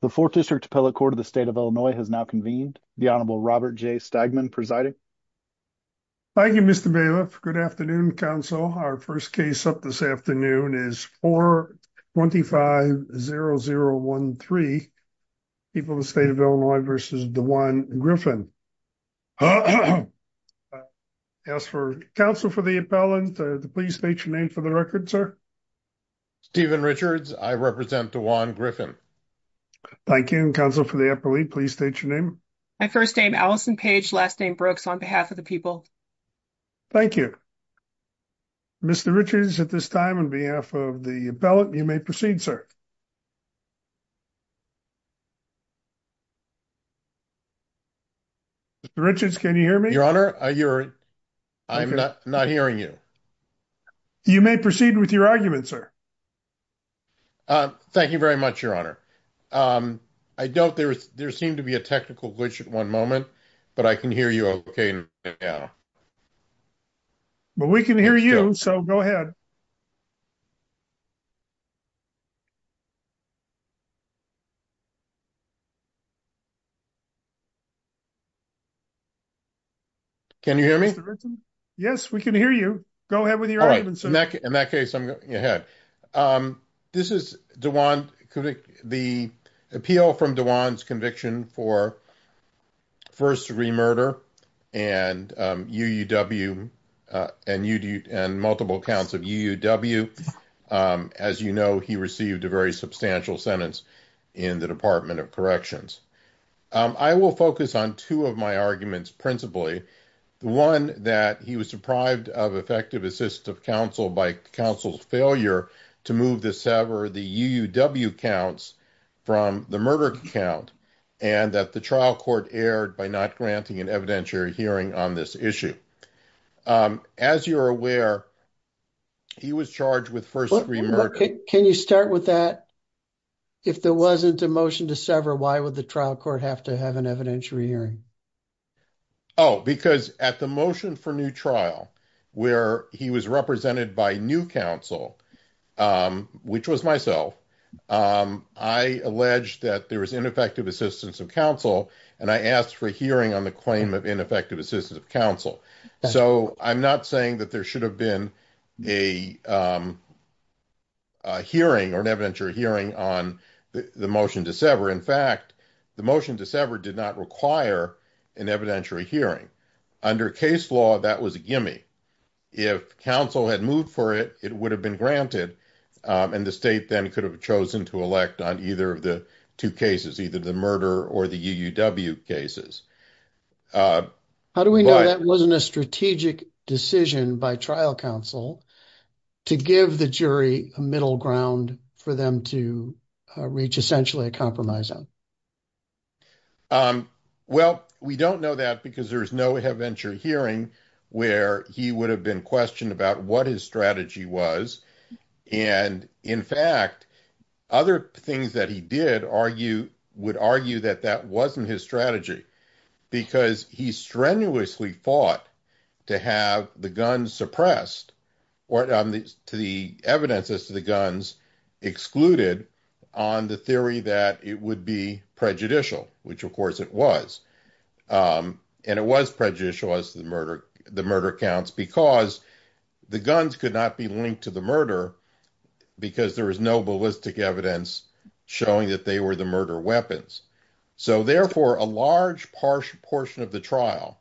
The 4th District Appellate Court of the State of Illinois has now convened. The Honorable Robert J. Stagman presiding. Thank you, Mr. Bailiff. Good afternoon, Council. Our first case up this afternoon is 425-0013, People of the State of Illinois v. DeJuan Griffin. I ask for counsel for the appellant. Please state your name for the record, sir. Stephen Richards, I represent DeJuan Griffin. Thank you. And counsel for the appellate, please state your name. My first name, Allison Page, last name Brooks, on behalf of the people. Thank you. Mr. Richards, at this time, on behalf of the appellant, you may proceed, sir. Mr. Richards, can you hear me? Your Honor, I'm not hearing you. You may proceed with your argument, sir. Thank you very much, Your Honor. I don't—there seemed to be a technical glitch at one moment, but I can hear you okay now. But we can hear you, so go ahead. Can you hear me? Yes, we can hear you. Go ahead with your argument, sir. In that case, I'm going ahead. This is DeJuan—the appeal from DeJuan's conviction for first degree murder and UUW and multiple counts of UUW. As you know, he received a very substantial sentence in the Department of Corrections. I will focus on two of my arguments principally. One, that he was deprived of effective assistive counsel by counsel's failure to move to sever the UUW counts from the murder count, and that the trial court erred by not granting an evidentiary hearing on this issue. As you're aware, he was charged with first degree murder— Can you start with that? If there wasn't a motion to sever, why would the trial court have to have an evidentiary hearing? Oh, because at the motion for new trial, where he was represented by new counsel, which was myself, I alleged that there was ineffective assistance of counsel, and I asked for a hearing on the claim of ineffective assistance of counsel. So I'm not saying that there should have been a hearing or an evidentiary hearing on the motion to sever. In fact, the motion to sever did not require an evidentiary hearing. Under case law, that was a gimme. If counsel had moved for it, it would have been granted, and the state then could have chosen to elect on either of the two cases, either the murder or the UUW cases. How do we know that wasn't a strategic decision by trial counsel to give the jury a middle ground for them to reach essentially a compromise on? Well, we don't know that because there is no evidentiary hearing where he would have been questioned about what his strategy was. And in fact, other things that he did would argue that that wasn't his strategy because he strenuously fought to have the evidence as to the guns excluded on the theory that it would be prejudicial, which of course it was. And it was prejudicial as the murder counts because the guns could not be linked to the murder because there was no ballistic evidence showing that they were the murder weapons. So therefore, a large portion of the trial,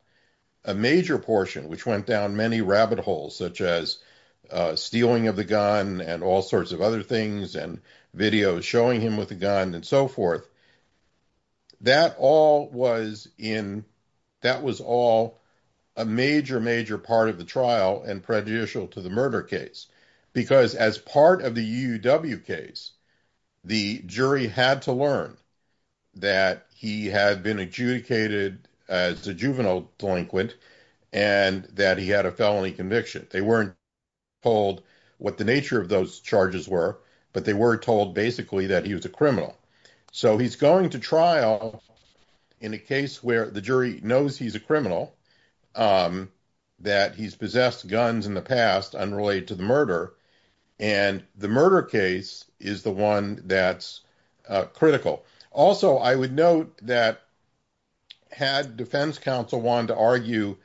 a major portion, which went down many rabbit holes, such as stealing of the gun and all sorts of other things, and videos showing him with a gun and so forth, that was all a major, major part of the trial and prejudicial to the murder case because as part of the UUW case, the jury had to learn that he had been adjudicated as a juvenile delinquent and that he had a felony conviction. They weren't told what the nature of those charges were, but they were told basically that he was a criminal. So he's going to trial in a case where the jury knows he's a criminal, that he's possessed guns in the past unrelated to the murder, and the murder case is the one that's critical. Also, I would note that had defense counsel wanted to argue,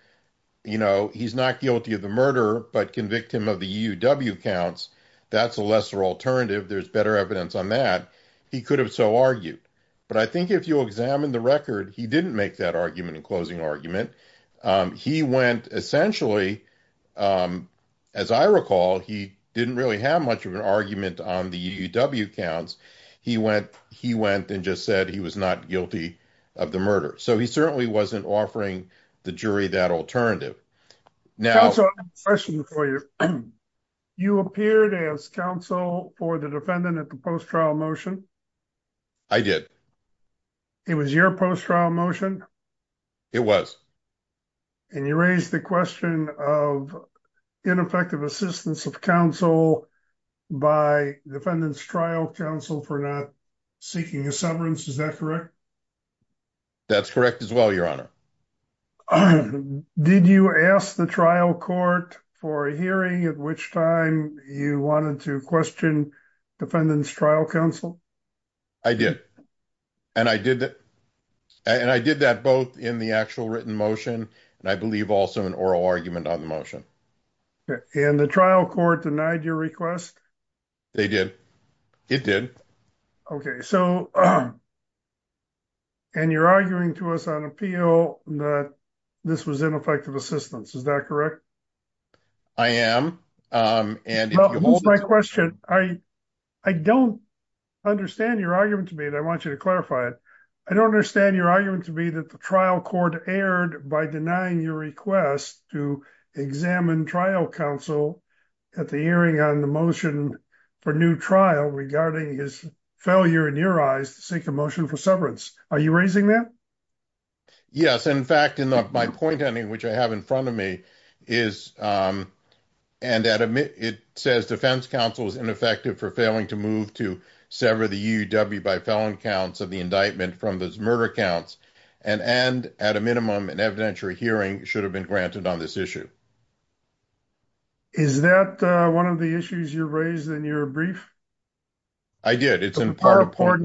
you know, he's not guilty of the murder, but convicted him of the UUW counts, that's a lesser alternative. There's better evidence on that. He could have so argued. But I think if you examine the record, he didn't make that argument in closing argument. He went essentially, as I recall, he didn't really have much of an argument on the UUW counts. He went and just said he was not guilty of the murder. So he certainly wasn't offering the jury that alternative. Now- Counsel, I have a question for you. You appeared as counsel for the defendant at the post-trial motion? I did. It was your post-trial motion? It was. And you raised the question of ineffective assistance of counsel by defendant's trial counsel for not seeking a severance. Is that correct? That's correct as well, Your Honor. Did you ask the trial court for a hearing at which time you wanted to question defendant's trial counsel? I did. And I did that both in the actual written motion and I believe also in oral argument on the motion. And the trial court denied your request? They did. It did. So and you're arguing to us on appeal that this was ineffective assistance. Is that correct? I am. Who's my question? I don't understand your argument to me and I want you to clarify it. I don't understand your argument to me that the trial court erred by denying your request to examine trial counsel at the hearing on the motion for new trial regarding his failure in your eyes to seek a motion for severance. Are you raising that? Yes. In fact, in my point, which I have in front of me, it says defense counsel is ineffective for failing to move to sever the UUW by felon counts of the indictment from those murder counts and at a minimum, an evidentiary hearing should have been granted on this issue. Is that one of the issues you raised in your brief? I did. It's in part for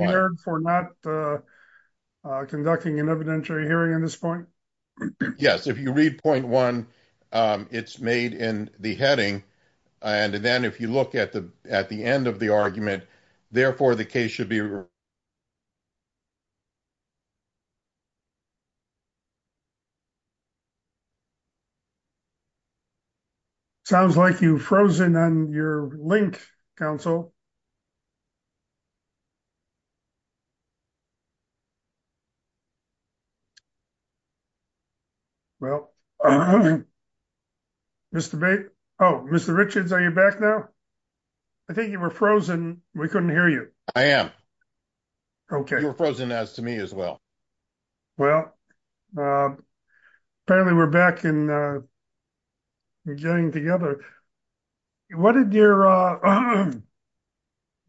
not conducting an evidentiary hearing on this point. Yes, if you read point 1, it's made in the heading. And then if you look at the at the end of the argument, therefore, the case should be. Sounds like you frozen on your link counsel. Well. Mr. Oh, Mr. Richards, are you back now? I think you were frozen. We couldn't hear you. I am. Okay, you're frozen as to me as well. Well, apparently we're back in. Getting together. What did your.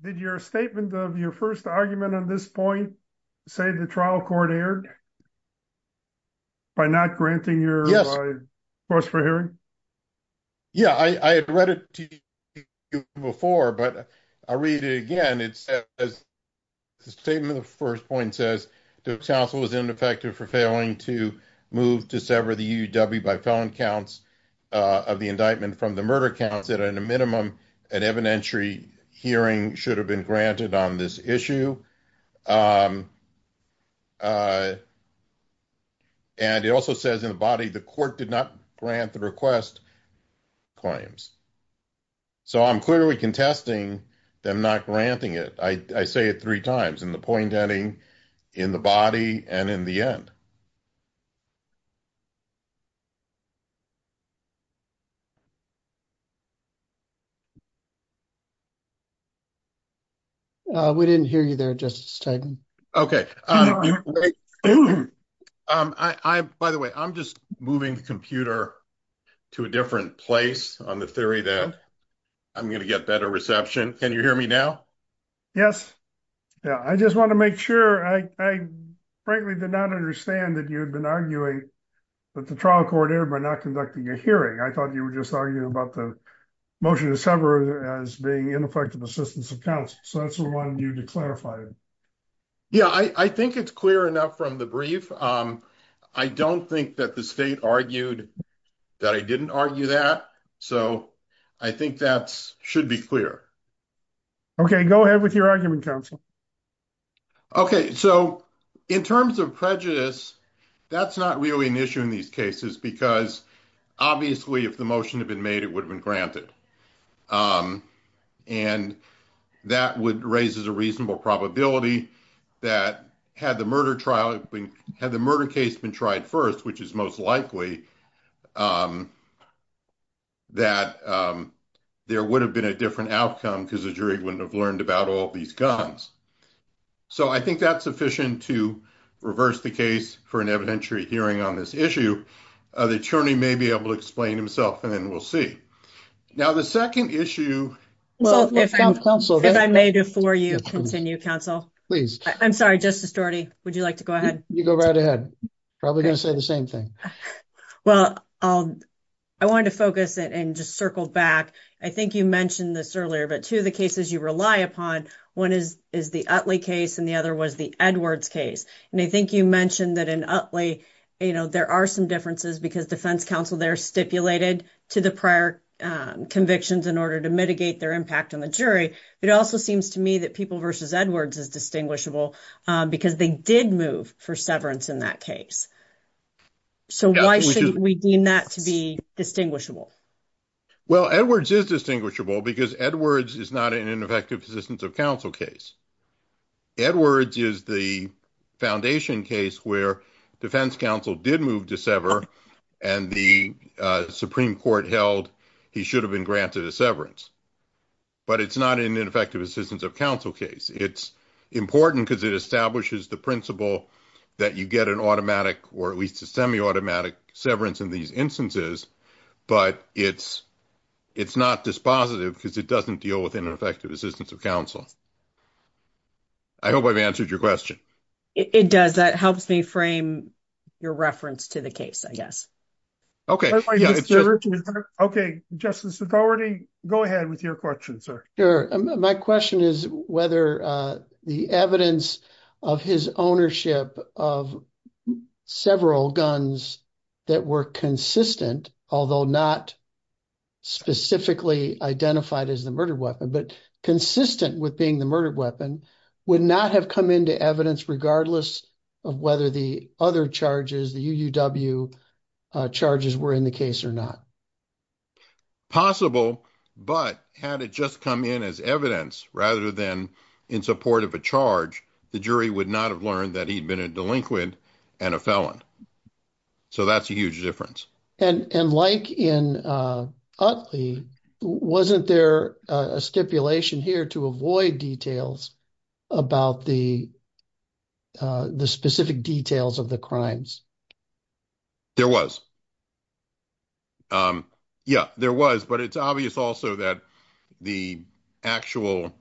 Did your statement of your 1st argument on this point. Say, the trial court aired by not granting your. First for hearing. Yeah, I had read it. Before, but I read it again. It's. The statement of the 1st point says the council is ineffective for failing to move to sever the by phone counts. Of the indictment from the murder counts that are in a minimum. An evidentiary hearing should have been granted on this issue. And it also says in the body, the court did not grant the request. Clients, so I'm clearly contesting them, not granting it. I say it 3 times and the point ending. In the body, and in the end, we didn't hear you there. Just. Okay, I, by the way, I'm just moving the computer. To a different place on the theory that. I'm going to get better reception. Can you hear me now? Yes. Yeah, I just want to make sure I frankly did not understand that you had been arguing. But the trial court air, but not conducting a hearing. I thought you were just talking about the. Motion to sever as being ineffective assistance accounts. So that's the 1 you to clarify. Yeah, I think it's clear enough from the brief. I don't think that the state argued. That I didn't argue that so I think that's should be clear. Okay, go ahead with your argument council. Okay. So. In terms of prejudice, that's not really an issue in these cases because. Obviously, if the motion had been made, it would have been granted. And that would raise as a reasonable probability that had the murder trial had the murder case been tried 1st, which is most likely. That there would have been a different outcome because the jury wouldn't have learned about all these guns. So, I think that's sufficient to reverse the case for an evidentiary hearing on this issue. The attorney may be able to explain himself and then we'll see. Now, the 2nd issue, if I may, before you continue counsel, please, I'm sorry, just a story. Would you like to go ahead? You go right ahead? Probably going to say the same thing. Well, I wanted to focus it and just circle back. I think you mentioned this earlier, but 2 of the cases you rely upon 1 is is the case and the other was the Edwards case. And I think you mentioned that in Utley, there are some differences because defense counsel, they're stipulated to the prior convictions in order to mitigate their impact on the jury. But it also seems to me that people versus Edwards is distinguishable because they did move for severance in that case. So, why should we deem that to be distinguishable? Well, Edwards is distinguishable because Edwards is not an ineffective assistance of counsel case. Edwards is the foundation case where defense counsel did move to sever and the Supreme Court held he should have been granted a severance. But it's not an ineffective assistance of counsel case. It's important because it establishes the principle that you get an automatic or at least a semi automatic severance in these instances. But it's it's not dispositive because it doesn't deal with ineffective assistance of counsel. I hope I've answered your question. It does. That helps me frame your reference to the case. I guess. Okay. Okay. Justice, if already go ahead with your question, sir. Sure. My question is whether the evidence of his ownership of several guns that were consistent, although not. Specifically identified as the murder weapon, but consistent with being the murder weapon would not have come into evidence regardless of whether the other charges the charges were in the case or not. Possible, but had it just come in as evidence rather than in support of a charge, the jury would not have learned that he'd been a delinquent and a felon. So that's a huge difference. And like in. Wasn't there a stipulation here to avoid details about the. The specific details of the crimes. There was. Yeah, there was, but it's obvious also that the actual.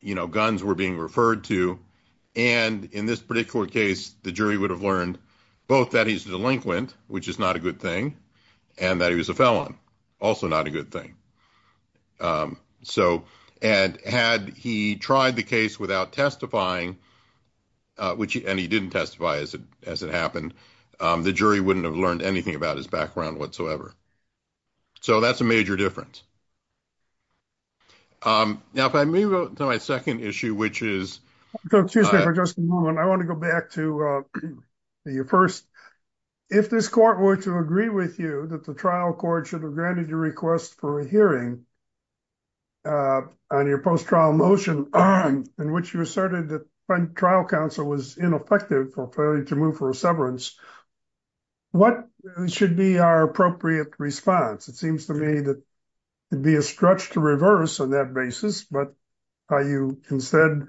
You know, guns were being referred to. And in this particular case, the jury would have learned both that he's delinquent, which is not a good thing. And that he was a felon also not a good thing. So, and had he tried the case without testifying. Which he didn't testify as it as it happened, the jury wouldn't have learned anything about his background whatsoever. So that's a major difference. Now, if I may go to my 2nd issue, which is just 1, I want to go back to the 1st, if this court were to agree with you that the trial court should have granted your request for a hearing. On your post trial motion on which you asserted that trial counsel was ineffective for failure to move for severance. What should be our appropriate response? It seems to me that. It'd be a stretch to reverse on that basis, but are you instead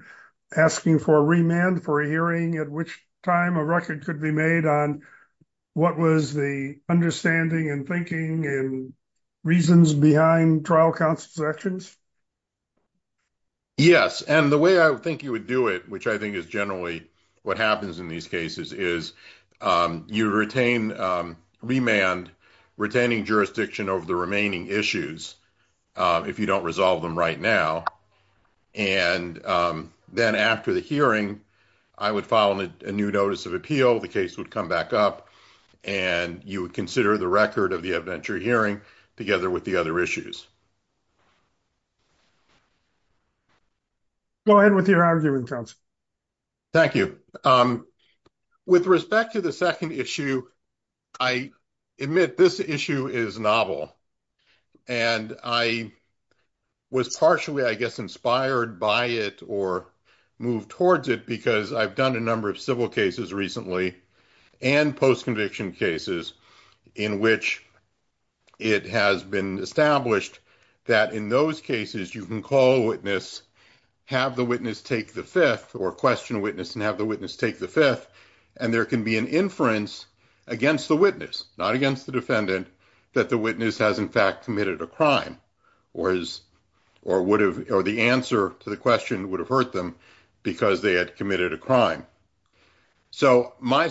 asking for a remand for a hearing at which time a record could be made on what was the understanding and thinking and reasons behind trial counsel's actions. Yes, and the way I think you would do it, which I think is generally what happens in these cases is. You retain remand retaining jurisdiction over the remaining issues. If you don't resolve them right now, and then after the hearing. I would follow a new notice of appeal. The case would come back up. And you would consider the record of the adventure hearing together with the other issues. Go ahead with your argument. Thank you. With respect to the 2nd issue. I admit this issue is novel. And I was partially, I guess, inspired by it or move towards it because I've done a number of civil cases recently and post conviction cases in which. It has been established that in those cases, you can call witness. Have the witness take the 5th or question witness and have the witness take the 5th. And there can be an inference against the witness, not against the defendant that the witness has, in fact, committed a crime or is. Or would have, or the answer to the question would have hurt them because they had committed a crime. So, my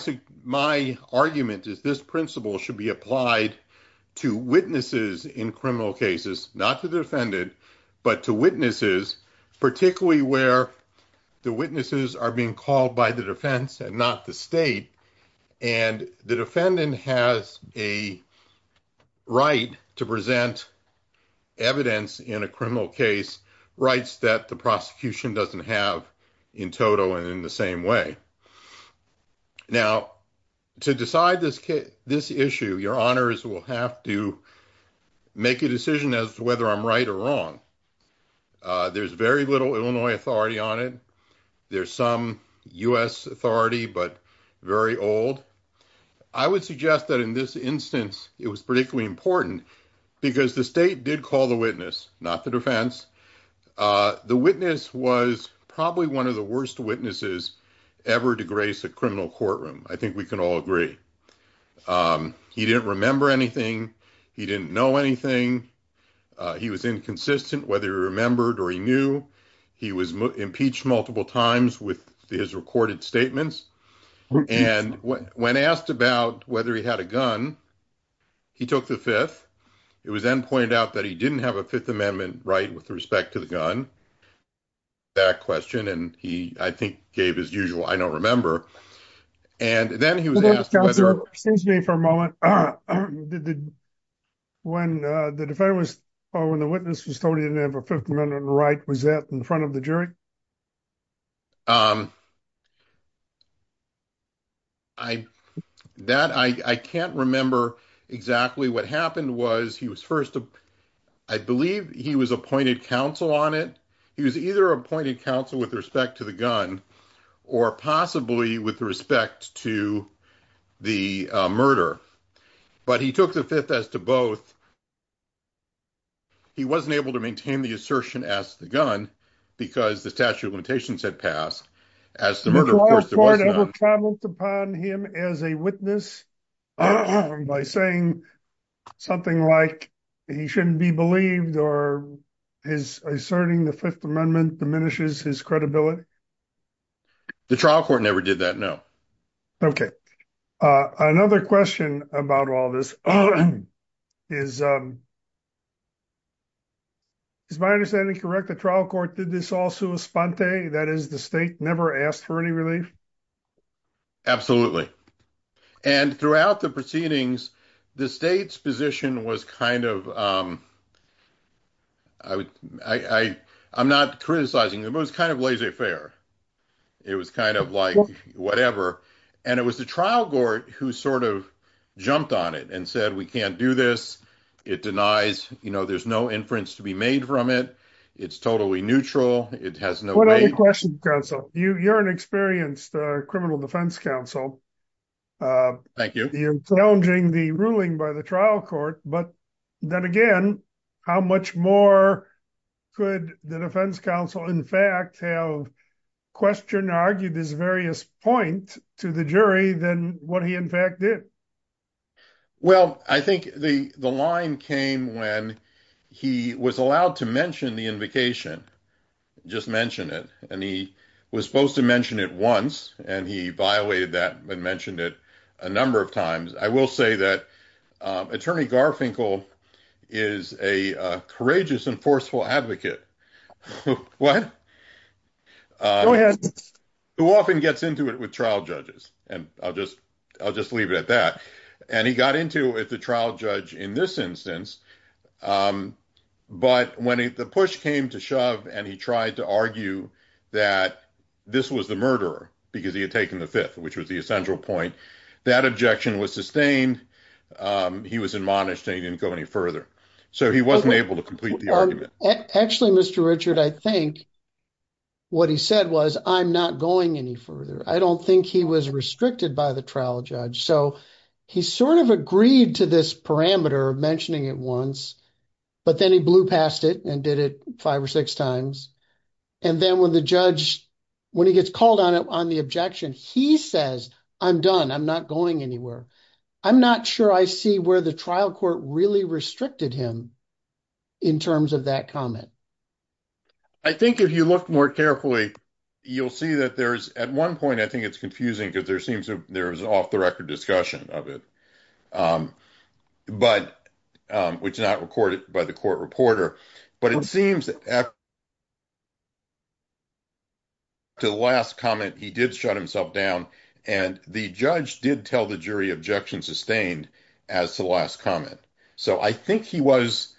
argument is this principle should be applied. To witnesses in criminal cases, not to defend it. But to witnesses, particularly where. The witnesses are being called by the defense and not the state. And the defendant has a. Right to present. Evidence in a criminal case rights that the prosecution doesn't have. In total, and in the same way. Now, to decide this, this issue, your honors will have to make a decision as to whether I'm right or wrong. There's very little Illinois authority on it. There's some US authority, but very old. I would suggest that in this instance, it was particularly important. Because the state did call the witness, not the defense. The witness was probably 1 of the worst witnesses. Ever to grace a criminal courtroom. I think we can all agree. He didn't remember anything. He didn't know anything. He was inconsistent, whether he remembered or he knew. He was impeached multiple times with his recorded statements. And when asked about whether he had a gun. He took the 5th. It was then pointed out that he didn't have a 5th amendment, right? With respect to the gun. That question, and he, I think, gave his usual. I don't remember. And then he was asking me for a moment. When the defender was when the witness was told he didn't have a 5th amendment, right? Was that in front of the jury? I, that I can't remember exactly what happened was he was 1st. I believe he was appointed counsel on it. He was either appointed counsel with respect to the gun. Or possibly with respect to the murder, but he took the 5th as to both. He wasn't able to maintain the assertion as the gun. Because the statute of limitations had passed. As the murder, of course, upon him as a witness. By saying something like. He shouldn't be believed or is asserting the 5th amendment diminishes his credibility. The trial court never did that. No, okay. Another question about all this is. Is my understanding correct? The trial court did this also a sponte that is the state never asked for any relief. Absolutely, and throughout the proceedings, the state's position was kind of. I, I, I'm not criticizing the most kind of laissez faire. It was kind of like whatever and it was the trial court who sort of jumped on it and said we can't It denies, you know, there's no inference to be made from it. It's totally neutral. It has no question. You're an experienced criminal defense counsel. Thank you challenging the ruling by the trial court. But then again, how much more. Could the defense counsel in fact. Question argued this various point to the jury, then what he in fact did. Well, I think the, the line came when he was allowed to mention the invocation. Just mention it and he was supposed to mention it once and he violated that and mentioned it a number of times. I will say that attorney Garfinkel is a courageous and forceful advocate. What? Go ahead. Who often gets into it with trial judges and I'll just I'll just leave it at that. And he got into it. The trial judge in this instance. But when the push came to shove and he tried to argue that this was the murderer, because he had taken the fifth, which was the essential point that objection was sustained. He was admonished and he didn't go any further. So he wasn't able to complete the argument. Actually, Mr. Richard, I think. What he said was, I'm not going any further. I don't think he was restricted by the trial judge so he sort of agreed to this parameter mentioning it once. But then he blew past it and did it 5 or 6 times. And then when the judge, when he gets called on it on the objection, he says, I'm done. I'm not going anywhere. I'm not sure I see where the trial court really restricted him. In terms of that comment. I think if you look more carefully, you'll see that there's at 1 point. I think it's confusing because there seems to there's off the record discussion of it. But which is not recorded by the court reporter. But it seems. To the last comment, he did shut himself down. And the judge did tell the jury objection sustained as the last comment. So I think he was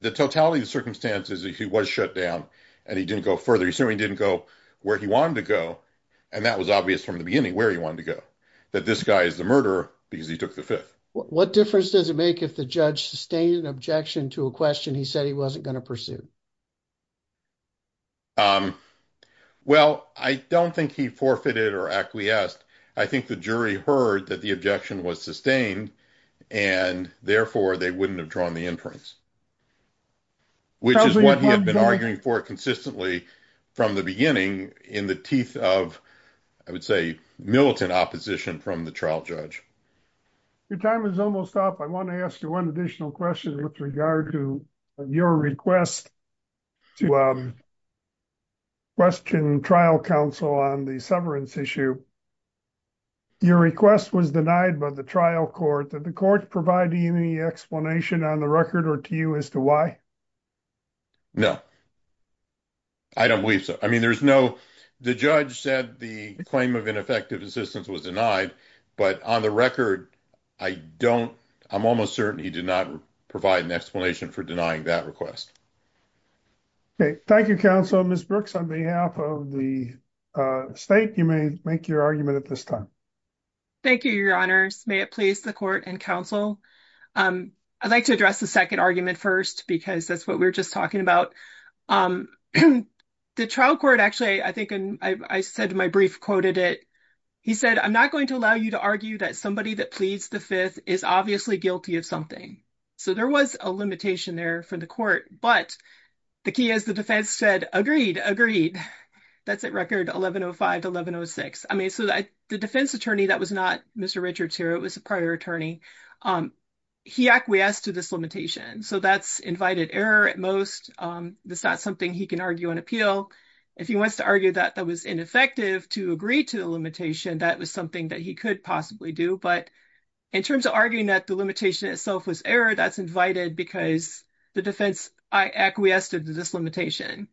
the totality of circumstances. He was shut down and he didn't go further. He certainly didn't go where he wanted to go. And that was obvious from the beginning where he wanted to go. That this guy is the murderer because he took the 5th. What difference does it make if the judge sustained an objection to a question? He said he wasn't going to pursue. Well, I don't think he forfeited or acquiesced. I think the jury heard that the objection was sustained. And therefore, they wouldn't have drawn the inference. Which is what he had been arguing for consistently. From the beginning in the teeth of. I would say militant opposition from the trial judge. Your time is almost up. I want to ask you 1 additional question with regard to your request. To question trial counsel on the severance issue. Your request was denied by the trial court. Did the court provide any explanation on the record or to you as to why? No, I don't believe so. I mean, there's no the judge said the claim of ineffective assistance was denied. But on the record, I don't. I'm almost certain he did not provide an explanation for denying that request. Okay, thank you. Counsel Miss Brooks on behalf of the state. You may make your argument at this time. Thank you. Your honors may it please the court and counsel. Um, I'd like to address the 2nd argument 1st, because that's what we're just talking about. The trial court actually, I think I said my brief quoted it. He said, I'm not going to allow you to argue that somebody that pleads the 5th is obviously guilty of something. So there was a limitation there for the court, but. The key is the defense said agreed agreed. That's at record 1105 to 1106. I mean, so the defense attorney that was not Mr Richards here. It was a prior attorney. Um, he acquiesced to this limitation. So that's invited error at most. That's not something he can argue on appeal. If he wants to argue that that was ineffective to agree to the limitation, that was something that he could possibly do. But in terms of arguing that the limitation itself was error, that's invited because the defense acquiesced to this limitation.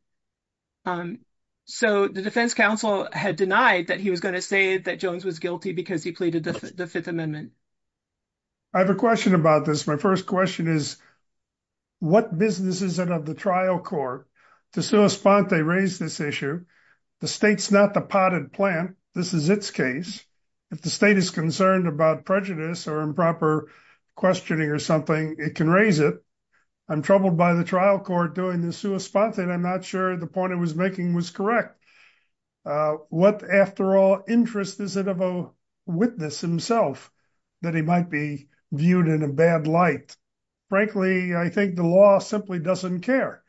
So the defense counsel had denied that he was going to say that Jones was guilty because he pleaded the 5th Amendment. I have a question about this. My first question is. What business is it of the trial court to sue a spot? They raise this issue. The state's not the potted plant. This is its case. If the state is concerned about prejudice or improper questioning or something, it can raise it. I'm troubled by the trial court doing this to a spot that I'm not sure the point it was making was correct. What, after all, interest is it of a witness himself that he might be viewed in a bad light? Frankly, I think the law simply doesn't care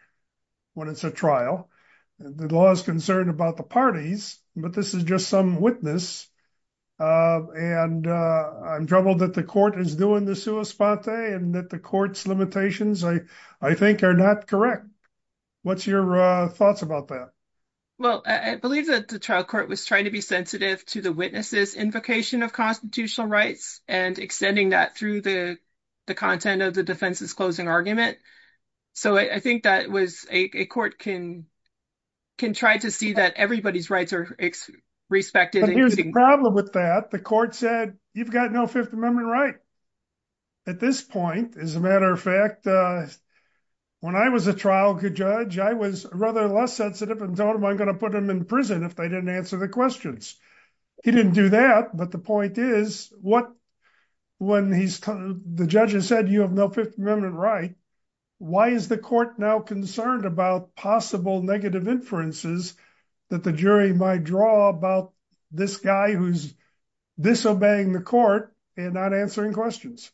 when it's a trial. The law is concerned about the parties, but this is just some witness. And I'm troubled that the court is doing this to a spot and that the court's limitations, I think, are not correct. What's your thoughts about that? Well, I believe that the trial court was trying to be sensitive to the witnesses' invocation of constitutional rights and extending that through the content of the defense's closing argument. So I think that a court can try to see that everybody's rights are respected. But here's the problem with that. The court said, you've got no 5th Amendment right at this point. As a matter of fact, when I was a trial judge, I was rather less sensitive and told them I'm going to put them in prison if they didn't answer the questions. He didn't do that. But the point is, when the judge has said you have no 5th Amendment right, why is the court now concerned about possible negative inferences that the jury might draw about this guy who's disobeying the court and not answering questions?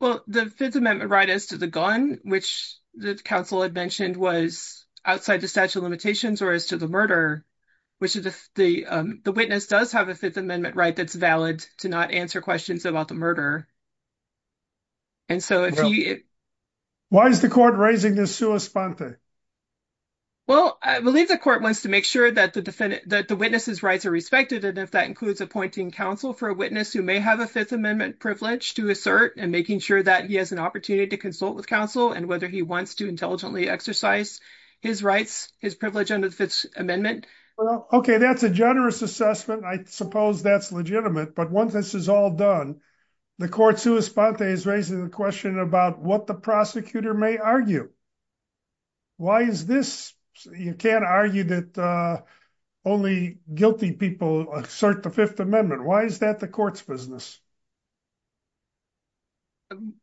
Well, the 5th Amendment right as to the gun, which the counsel had mentioned was outside the statute of limitations or as to the murder, which is if the witness does have a 5th Amendment right that's valid to not answer questions about the murder. And so if you... Why is the court raising this sua sponte? Well, I believe the court wants to make sure that the witnesses' rights are respected. And if that includes appointing counsel for a witness who may have a 5th Amendment privilege to assert and making sure that he has an opportunity to consult with counsel and whether he wants to intelligently exercise his rights, his privilege under the 5th Amendment. Okay, that's a generous assessment. I suppose that's legitimate. But once this is all done, the court sua sponte is raising the question about what the prosecutor may argue. Why is this? You can't argue that only guilty people assert the 5th Amendment. Why is that the court's business?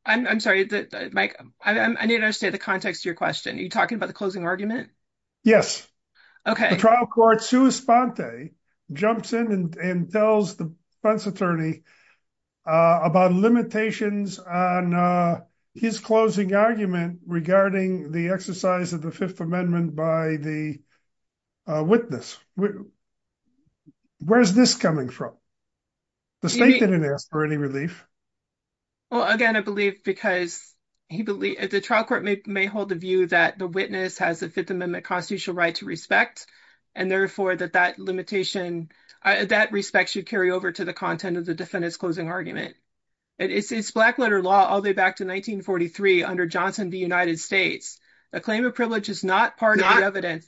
I'm sorry, Mike, I need to understand the context of your question. Are you talking about the closing argument? Yes. Okay. The trial court sua sponte jumps in and tells the defense attorney about limitations on his closing argument regarding the exercise of the 5th Amendment by the witness. Where's this coming from? The state didn't ask for any relief. Well, again, I believe because the trial court may hold the view that the witness has a 5th Amendment constitutional right to respect and therefore that that limitation, that respect should carry over to the content of the defendant's closing argument. It's black letter law all the way back to 1943 under Johnson v. United States. A claim of privilege is not part of the evidence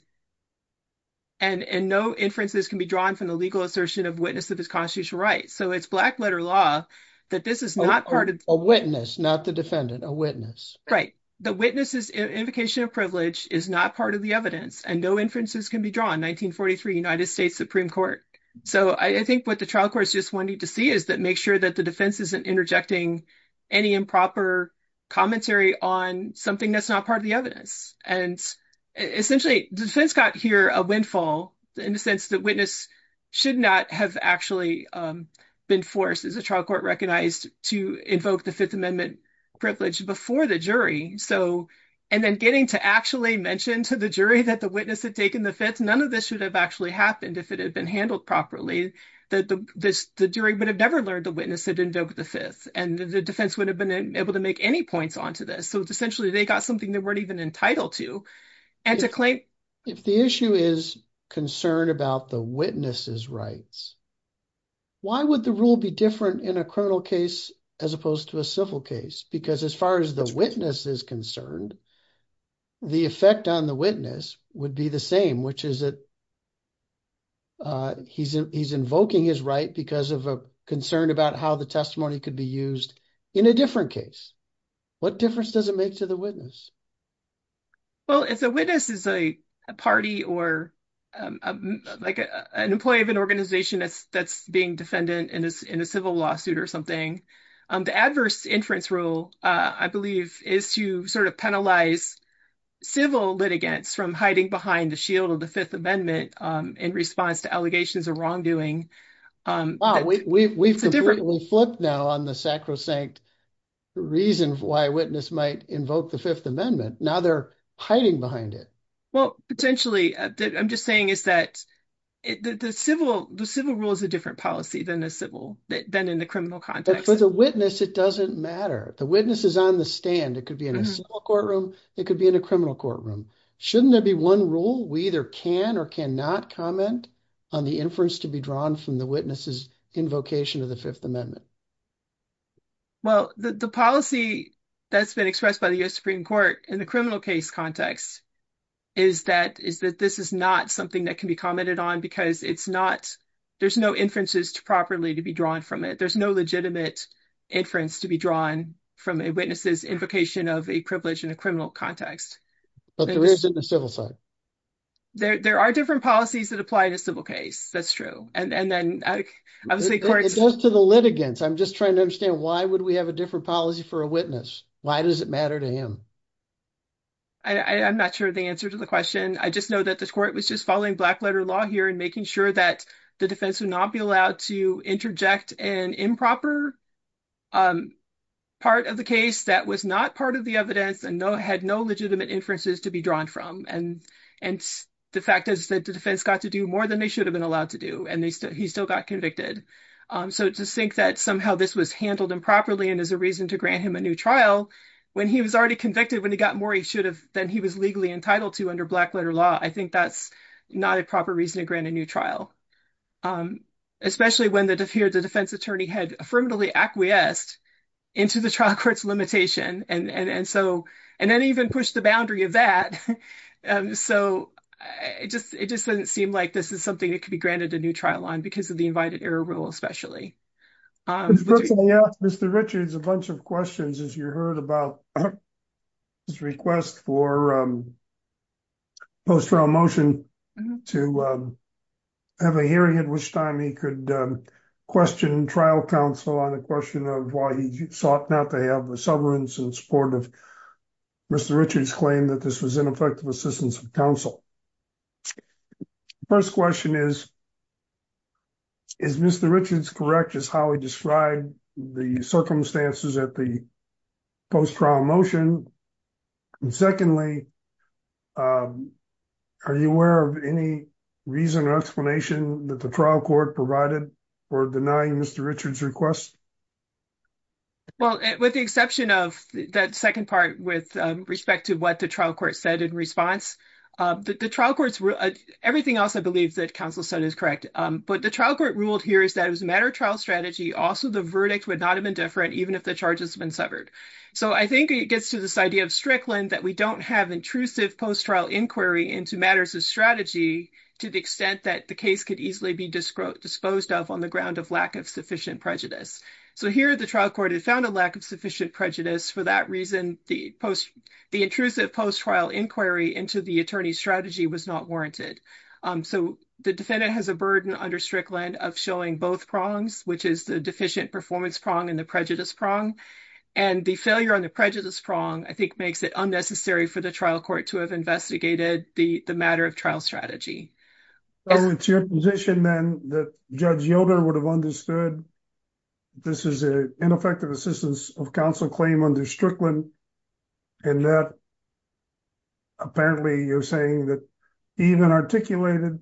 and no inferences can be drawn from the legal assertion of witness of his constitutional rights. It's black letter law that this is not part of... A witness, not the defendant, a witness. Right. The witness's invocation of privilege is not part of the evidence and no inferences can be drawn, 1943 United States Supreme Court. I think what the trial court just wanted to see is that make sure that the defense isn't interjecting any improper commentary on something that's not part of the evidence. Essentially, the defense got here a windfall in the sense that witness should not have actually been forced, as the trial court recognized, to invoke the 5th Amendment privilege before the jury. And then getting to actually mention to the jury that the witness had taken the 5th, none of this should have actually happened if it had been handled properly, that the jury would have never learned the witness had invoked the 5th and the defense would have been able to make any points onto this. So essentially, they got something they weren't even entitled to. And to claim... If the issue is concern about the witness's rights, why would the rule be different in a criminal case as opposed to a civil case? Because as far as the witness is concerned, the effect on the witness would be the same, which is that he's invoking his right because of a concern about how the testimony could be used in a different case. What difference does it make to the witness? If the witness is a party or an employee of an organization that's being defendant in a civil lawsuit or something, the adverse inference rule, I believe, is to sort of penalize civil litigants from hiding behind the shield of the 5th Amendment in response to allegations of wrongdoing. Wow, we've completely flipped now on the sacrosanct reason why a witness might invoke the 5th Amendment. Now they're hiding behind it. Well, potentially, I'm just saying is that the civil rule is a different policy than in the criminal context. But for the witness, it doesn't matter. The witness is on the stand. It could be in a civil courtroom. It could be in a criminal courtroom. Shouldn't there be one rule? We either can or cannot comment on the inference to be drawn from the witness's invocation of the 5th Amendment. Well, the policy that's been expressed by the U.S. Supreme Court in the criminal case context is that this is not something that can be commented on because it's not, there's no inferences properly to be drawn from it. There's no legitimate inference to be drawn from a witness's invocation of a privilege in a criminal context. But there is in the civil side. There are different policies that apply in a civil case. That's true. And then, obviously, courts- It goes to the litigants. I'm just trying to understand why would we have a different policy for a witness? Why does it matter to him? I'm not sure the answer to the question. I just know that the court was just following black letter law here and making sure that the defense would not be allowed to interject an improper part of the case that was not part of the evidence and had no legitimate inferences to be drawn from. And the fact is that the defense got to do more than they should have been allowed to do, and he still got convicted. So to think that somehow this was handled improperly and as a reason to grant him a new trial, when he was already convicted, when he got more he should have than he was legally entitled to under black letter law, I think that's not a proper reason to grant a new trial, especially when the defense attorney had affirmatively acquiesced into the trial court's limitation and then even pushed the boundary of that. So it just doesn't seem like this is something that could be granted a new trial on because of the invited error rule, especially. Mr. Richard's a bunch of questions as you heard about his request for post-trial motion to have a hearing at which time he could question trial counsel on the question of why he sought not to have a severance in support of Mr. Richard's claim that this was ineffective assistance of counsel. The first question is, is Mr. Richard's correct as how he described the circumstances at the post-trial motion? And secondly, are you aware of any reason or explanation that the trial court provided for denying Mr. Richard's request? Well, with the exception of that second part with respect to what the trial court said in response, the trial courts, everything else, I believe that counsel said is correct. But the trial court ruled here is that it was a matter of trial strategy. Also, the verdict would not have been different even if the charges had been severed. So I think it gets to this idea of Strickland that we don't have intrusive post-trial inquiry into matters of strategy to the extent that the case could easily be disposed of on the ground of lack of sufficient prejudice. So here the trial court had found a lack of sufficient prejudice for that reason, the intrusive post-trial inquiry into the attorney's strategy was not warranted. So the defendant has a burden under Strickland of showing both prongs, which is the deficient performance prong and the prejudice prong. And the failure on the prejudice prong, I think makes it unnecessary for the trial court to have investigated the matter of trial strategy. So it's your position then that Judge Yoder would have understood this is an ineffective assistance of counsel claim under Strickland and that apparently you're saying that even articulated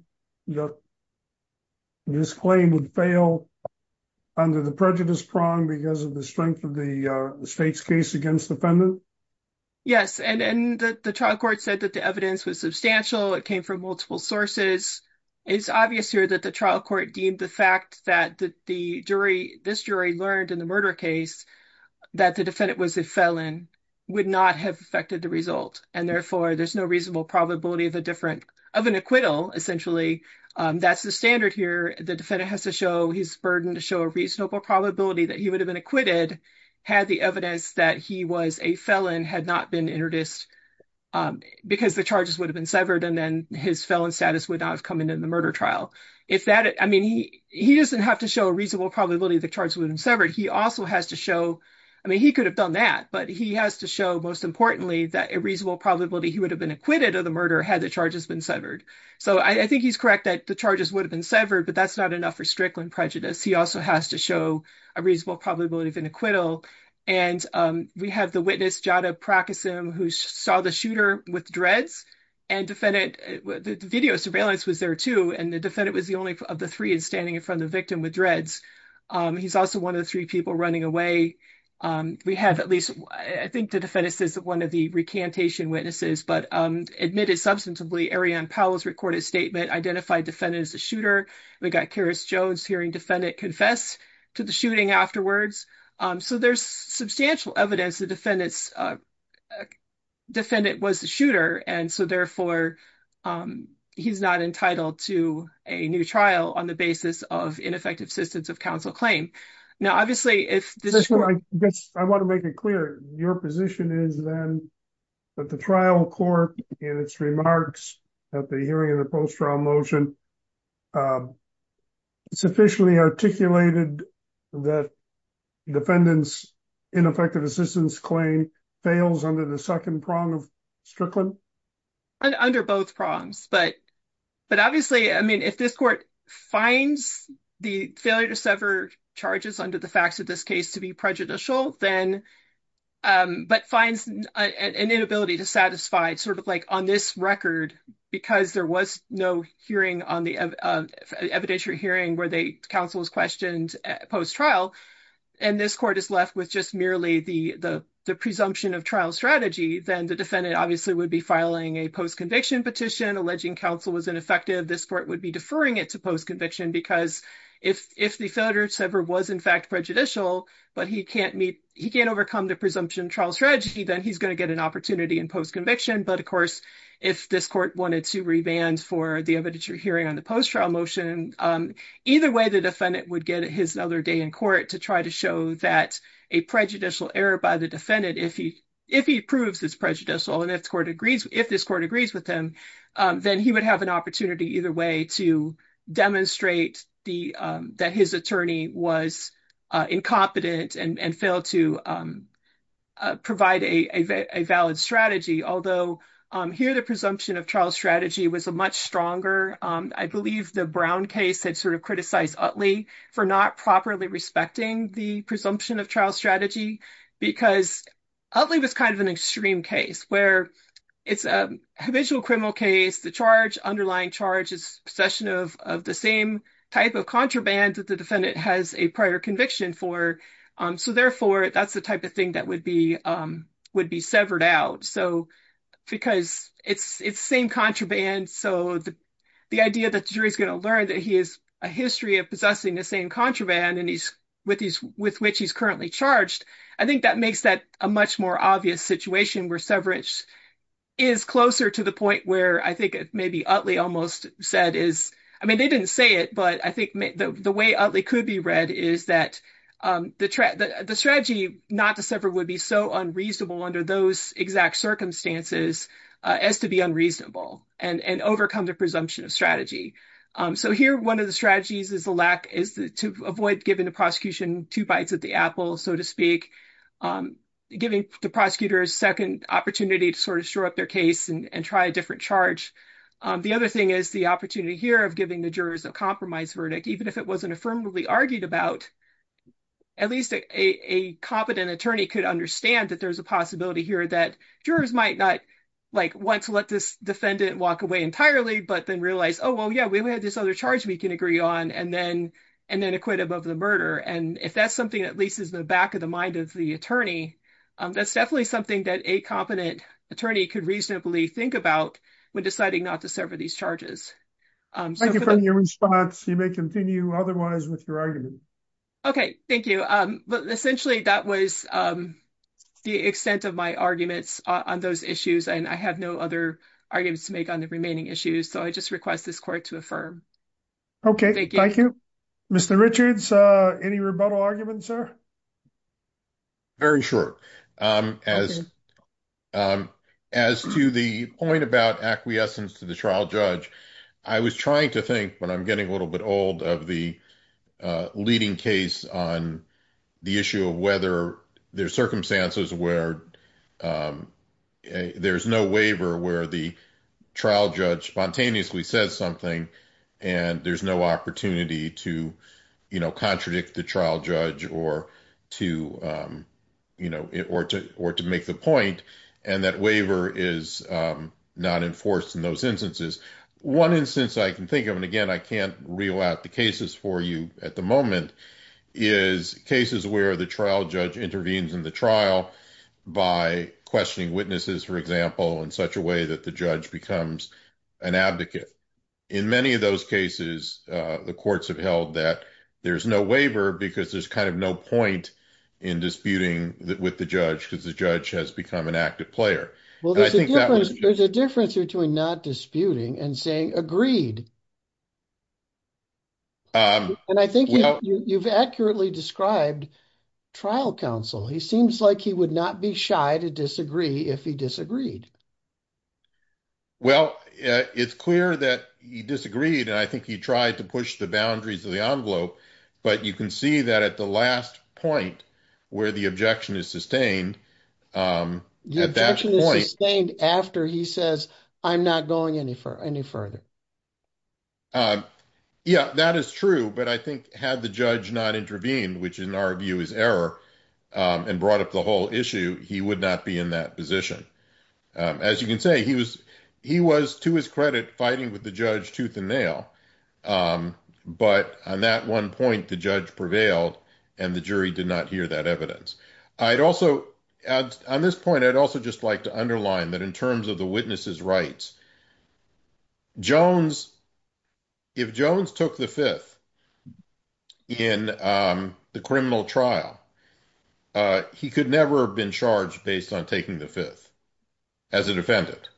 this claim would fail under the prejudice prong because of the strength of the state's case against the defendant? Yes, and the trial court said that the evidence was substantial. It came from multiple sources. It's obvious here that the trial court deemed the fact that this jury learned in the murder case that the defendant was a felon would not have affected the result. And therefore there's no reasonable probability of an acquittal essentially. That's the standard here. The defendant has to show his burden to show a reasonable probability that he would have been acquitted had the evidence that he was a felon had not been introduced because the charges would have been severed and then his felon status would not have come into the murder trial. If that, I mean, he doesn't have to show a reasonable probability the charges would have been severed. He also has to show, I mean, he could have done that, but he has to show most importantly that a reasonable probability he would have been acquitted of the murder had the charges been severed. So I think he's correct that the charges would have been severed, but that's not enough for Strickland prejudice. He also has to show a reasonable probability of an acquittal. And we have the witness Jada Prakasim who saw the shooter with dreads and defendant, the video surveillance was there too. And the defendant was the only of the three is standing in front of the victim with dreads. He's also one of the three people running away. We have at least, I think the defendant is one of the recantation witnesses, but admitted substantively Arianne Powell's recorded statement identified defendant as the shooter. We got Keris Jones hearing defendant confess to the shooting afterwards. So there's substantial evidence the defendant was the shooter. And so therefore he's not entitled to a new trial on the basis of ineffective assistance of counsel claim. Now, obviously if- I guess I want to make it clear your position is then that the trial court in its remarks at the hearing of the post-trial motion sufficiently articulated that defendant's ineffective assistance claim fails under the second prong of Strickland? And under both prongs, but obviously, I mean, if this court finds the failure to sever charges under the facts of this case to be prejudicial, but finds an inability to satisfy sort of like on this record, because there was no hearing on the evidentiary hearing where the counsel was questioned post-trial and this court is left with just merely the presumption of trial strategy, then the defendant obviously would be filing a post-conviction petition alleging counsel was ineffective. This court would be deferring it to post-conviction because if the failure to sever was in fact prejudicial, but he can't meet- he can't overcome the presumption of trial strategy, then he's going to get an opportunity in post-conviction. But of course, if this court wanted to revand for the evidentiary hearing on the post-trial motion, either way, the defendant would get his other day in court to try to show that a prejudicial error by the defendant, if he proves it's prejudicial and if the court agrees- if this court agrees with him, then he would have an opportunity to demonstrate that his attorney was incompetent and failed to provide a valid strategy. Although here, the presumption of trial strategy was a much stronger- I believe the Brown case had sort of criticized Utley for not properly respecting the presumption of trial strategy because Utley was kind of an extreme case where it's a habitual criminal case, underlying charge is possession of the same type of contraband that the defendant has a prior conviction for. So therefore, that's the type of thing that would be severed out. Because it's the same contraband, so the idea that the jury is going to learn that he has a history of possessing the same contraband with which he's currently charged, I think that makes that a much more obvious situation where severance is closer to the point where maybe Utley almost said is- I mean, they didn't say it, but I think the way Utley could be read is that the strategy not to sever would be so unreasonable under those exact circumstances as to be unreasonable and overcome the presumption of strategy. So here, one of the strategies is to avoid giving the prosecution two bites at the apple, so to speak, giving the prosecutor a second opportunity to sort of shore up their case and try a different charge. The other thing is the opportunity here of giving the jurors a compromise verdict, even if it wasn't affirmatively argued about, at least a competent attorney could understand that there's a possibility here that jurors might not like want to let this defendant walk away entirely, but then realize, oh, well, yeah, we have this other charge we can agree on and then acquit above the murder. And if that's something that leases the back of the mind of the attorney, that's definitely something that a competent attorney could reasonably think about when deciding not to serve these charges. Thank you for your response. You may continue otherwise with your argument. Okay, thank you. Essentially, that was the extent of my arguments on those issues, and I have no other arguments to make on the remaining issues, so I just request this court to affirm. Okay, thank you. Mr. Richards, any rebuttal arguments, sir? Very short. As to the point about acquiescence to the trial judge, I was trying to think when I'm getting a little bit old of the leading case on the issue of whether there's circumstances where there's no waiver where the trial judge spontaneously says something and there's no opportunity to contradict the trial judge or to make the point, and that waiver is not enforced in those instances. One instance I can think of, and again, I can't reel out the cases for you at the moment, is cases where the trial judge intervenes in the trial by questioning witnesses, for example, in such a way that the judge becomes an advocate. In many of those cases, the courts have held that there's no waiver because there's kind of no point in disputing with the judge because the judge has become an active player. There's a difference between not disputing and saying agreed. And I think you've accurately described trial counsel. He seems like he would not be shy to disagree if he disagreed. Well, it's clear that he disagreed, and I think he tried to push the boundaries of the envelope, but you can see that at the last point where the objection is sustained, at that point... after he says, I'm not going any further. Yeah, that is true, but I think had the judge not intervened, which in our view is error, and brought up the whole issue, he would not be in that position. As you can say, he was, to his credit, fighting with the judge tooth and nail, but on that one point, the judge prevailed, and the jury did not hear that evidence. I'd also... on this point, I'd also just like to underline that in terms of the witness's rights, if Jones took the fifth in the criminal trial, he could never have been charged based on taking the fifth as a defendant.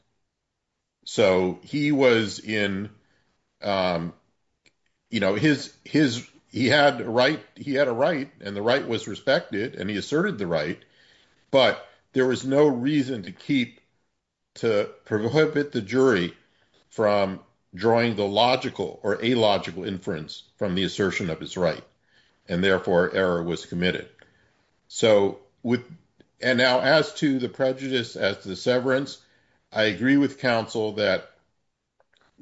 So he was in... you know, his... he had a right, and the right was respected, and he asserted the right, but there was no reason to keep... to prohibit the jury from drawing the logical or illogical inference from the assertion of his right, and therefore error was committed. So with... and now as to the prejudice, as to the severance, I agree with counsel that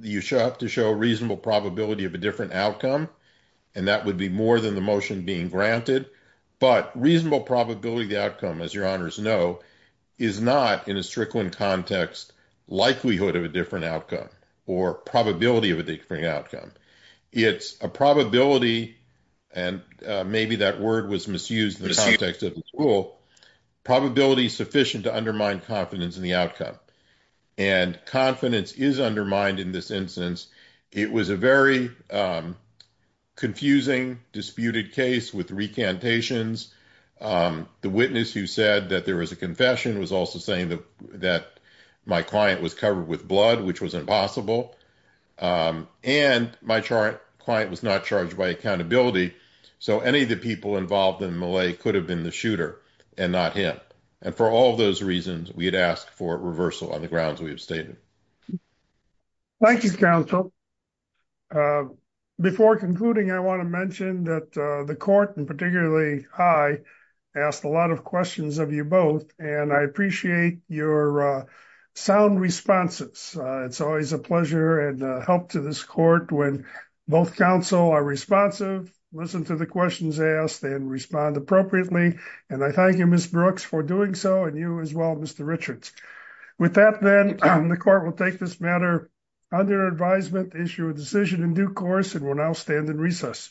you have to show a reasonable probability of a different outcome, and that would be more than the motion being granted, but reasonable probability of the outcome, as your honors know, is not, in a Strickland context, likelihood of a different outcome or probability of a different outcome. It's a probability, and maybe that word was misused in the context of the rule, probability sufficient to undermine confidence in the outcome, and confidence is undermined in this instance. It was a very confusing, disputed case with recantations. The witness who said that there was a confession was also saying that my client was covered with blood, which was impossible, and my client was not charged by accountability, so any of the people involved in the melee could have been the shooter and not him, and for all of those reasons, we had asked for reversal on the grounds we have stated. Thank you, counsel. Before concluding, I want to mention that the court, and particularly I, asked a lot of questions of you both, and I appreciate your sound responses. It's always a pleasure and help to this court when both counsel are responsive, listen to the questions asked, and respond appropriately, and I thank you, Ms. Brooks, and you as well, Mr. Richards. With that, then, the court will take this matter under advisement, issue a decision in due course, and will now stand in recess.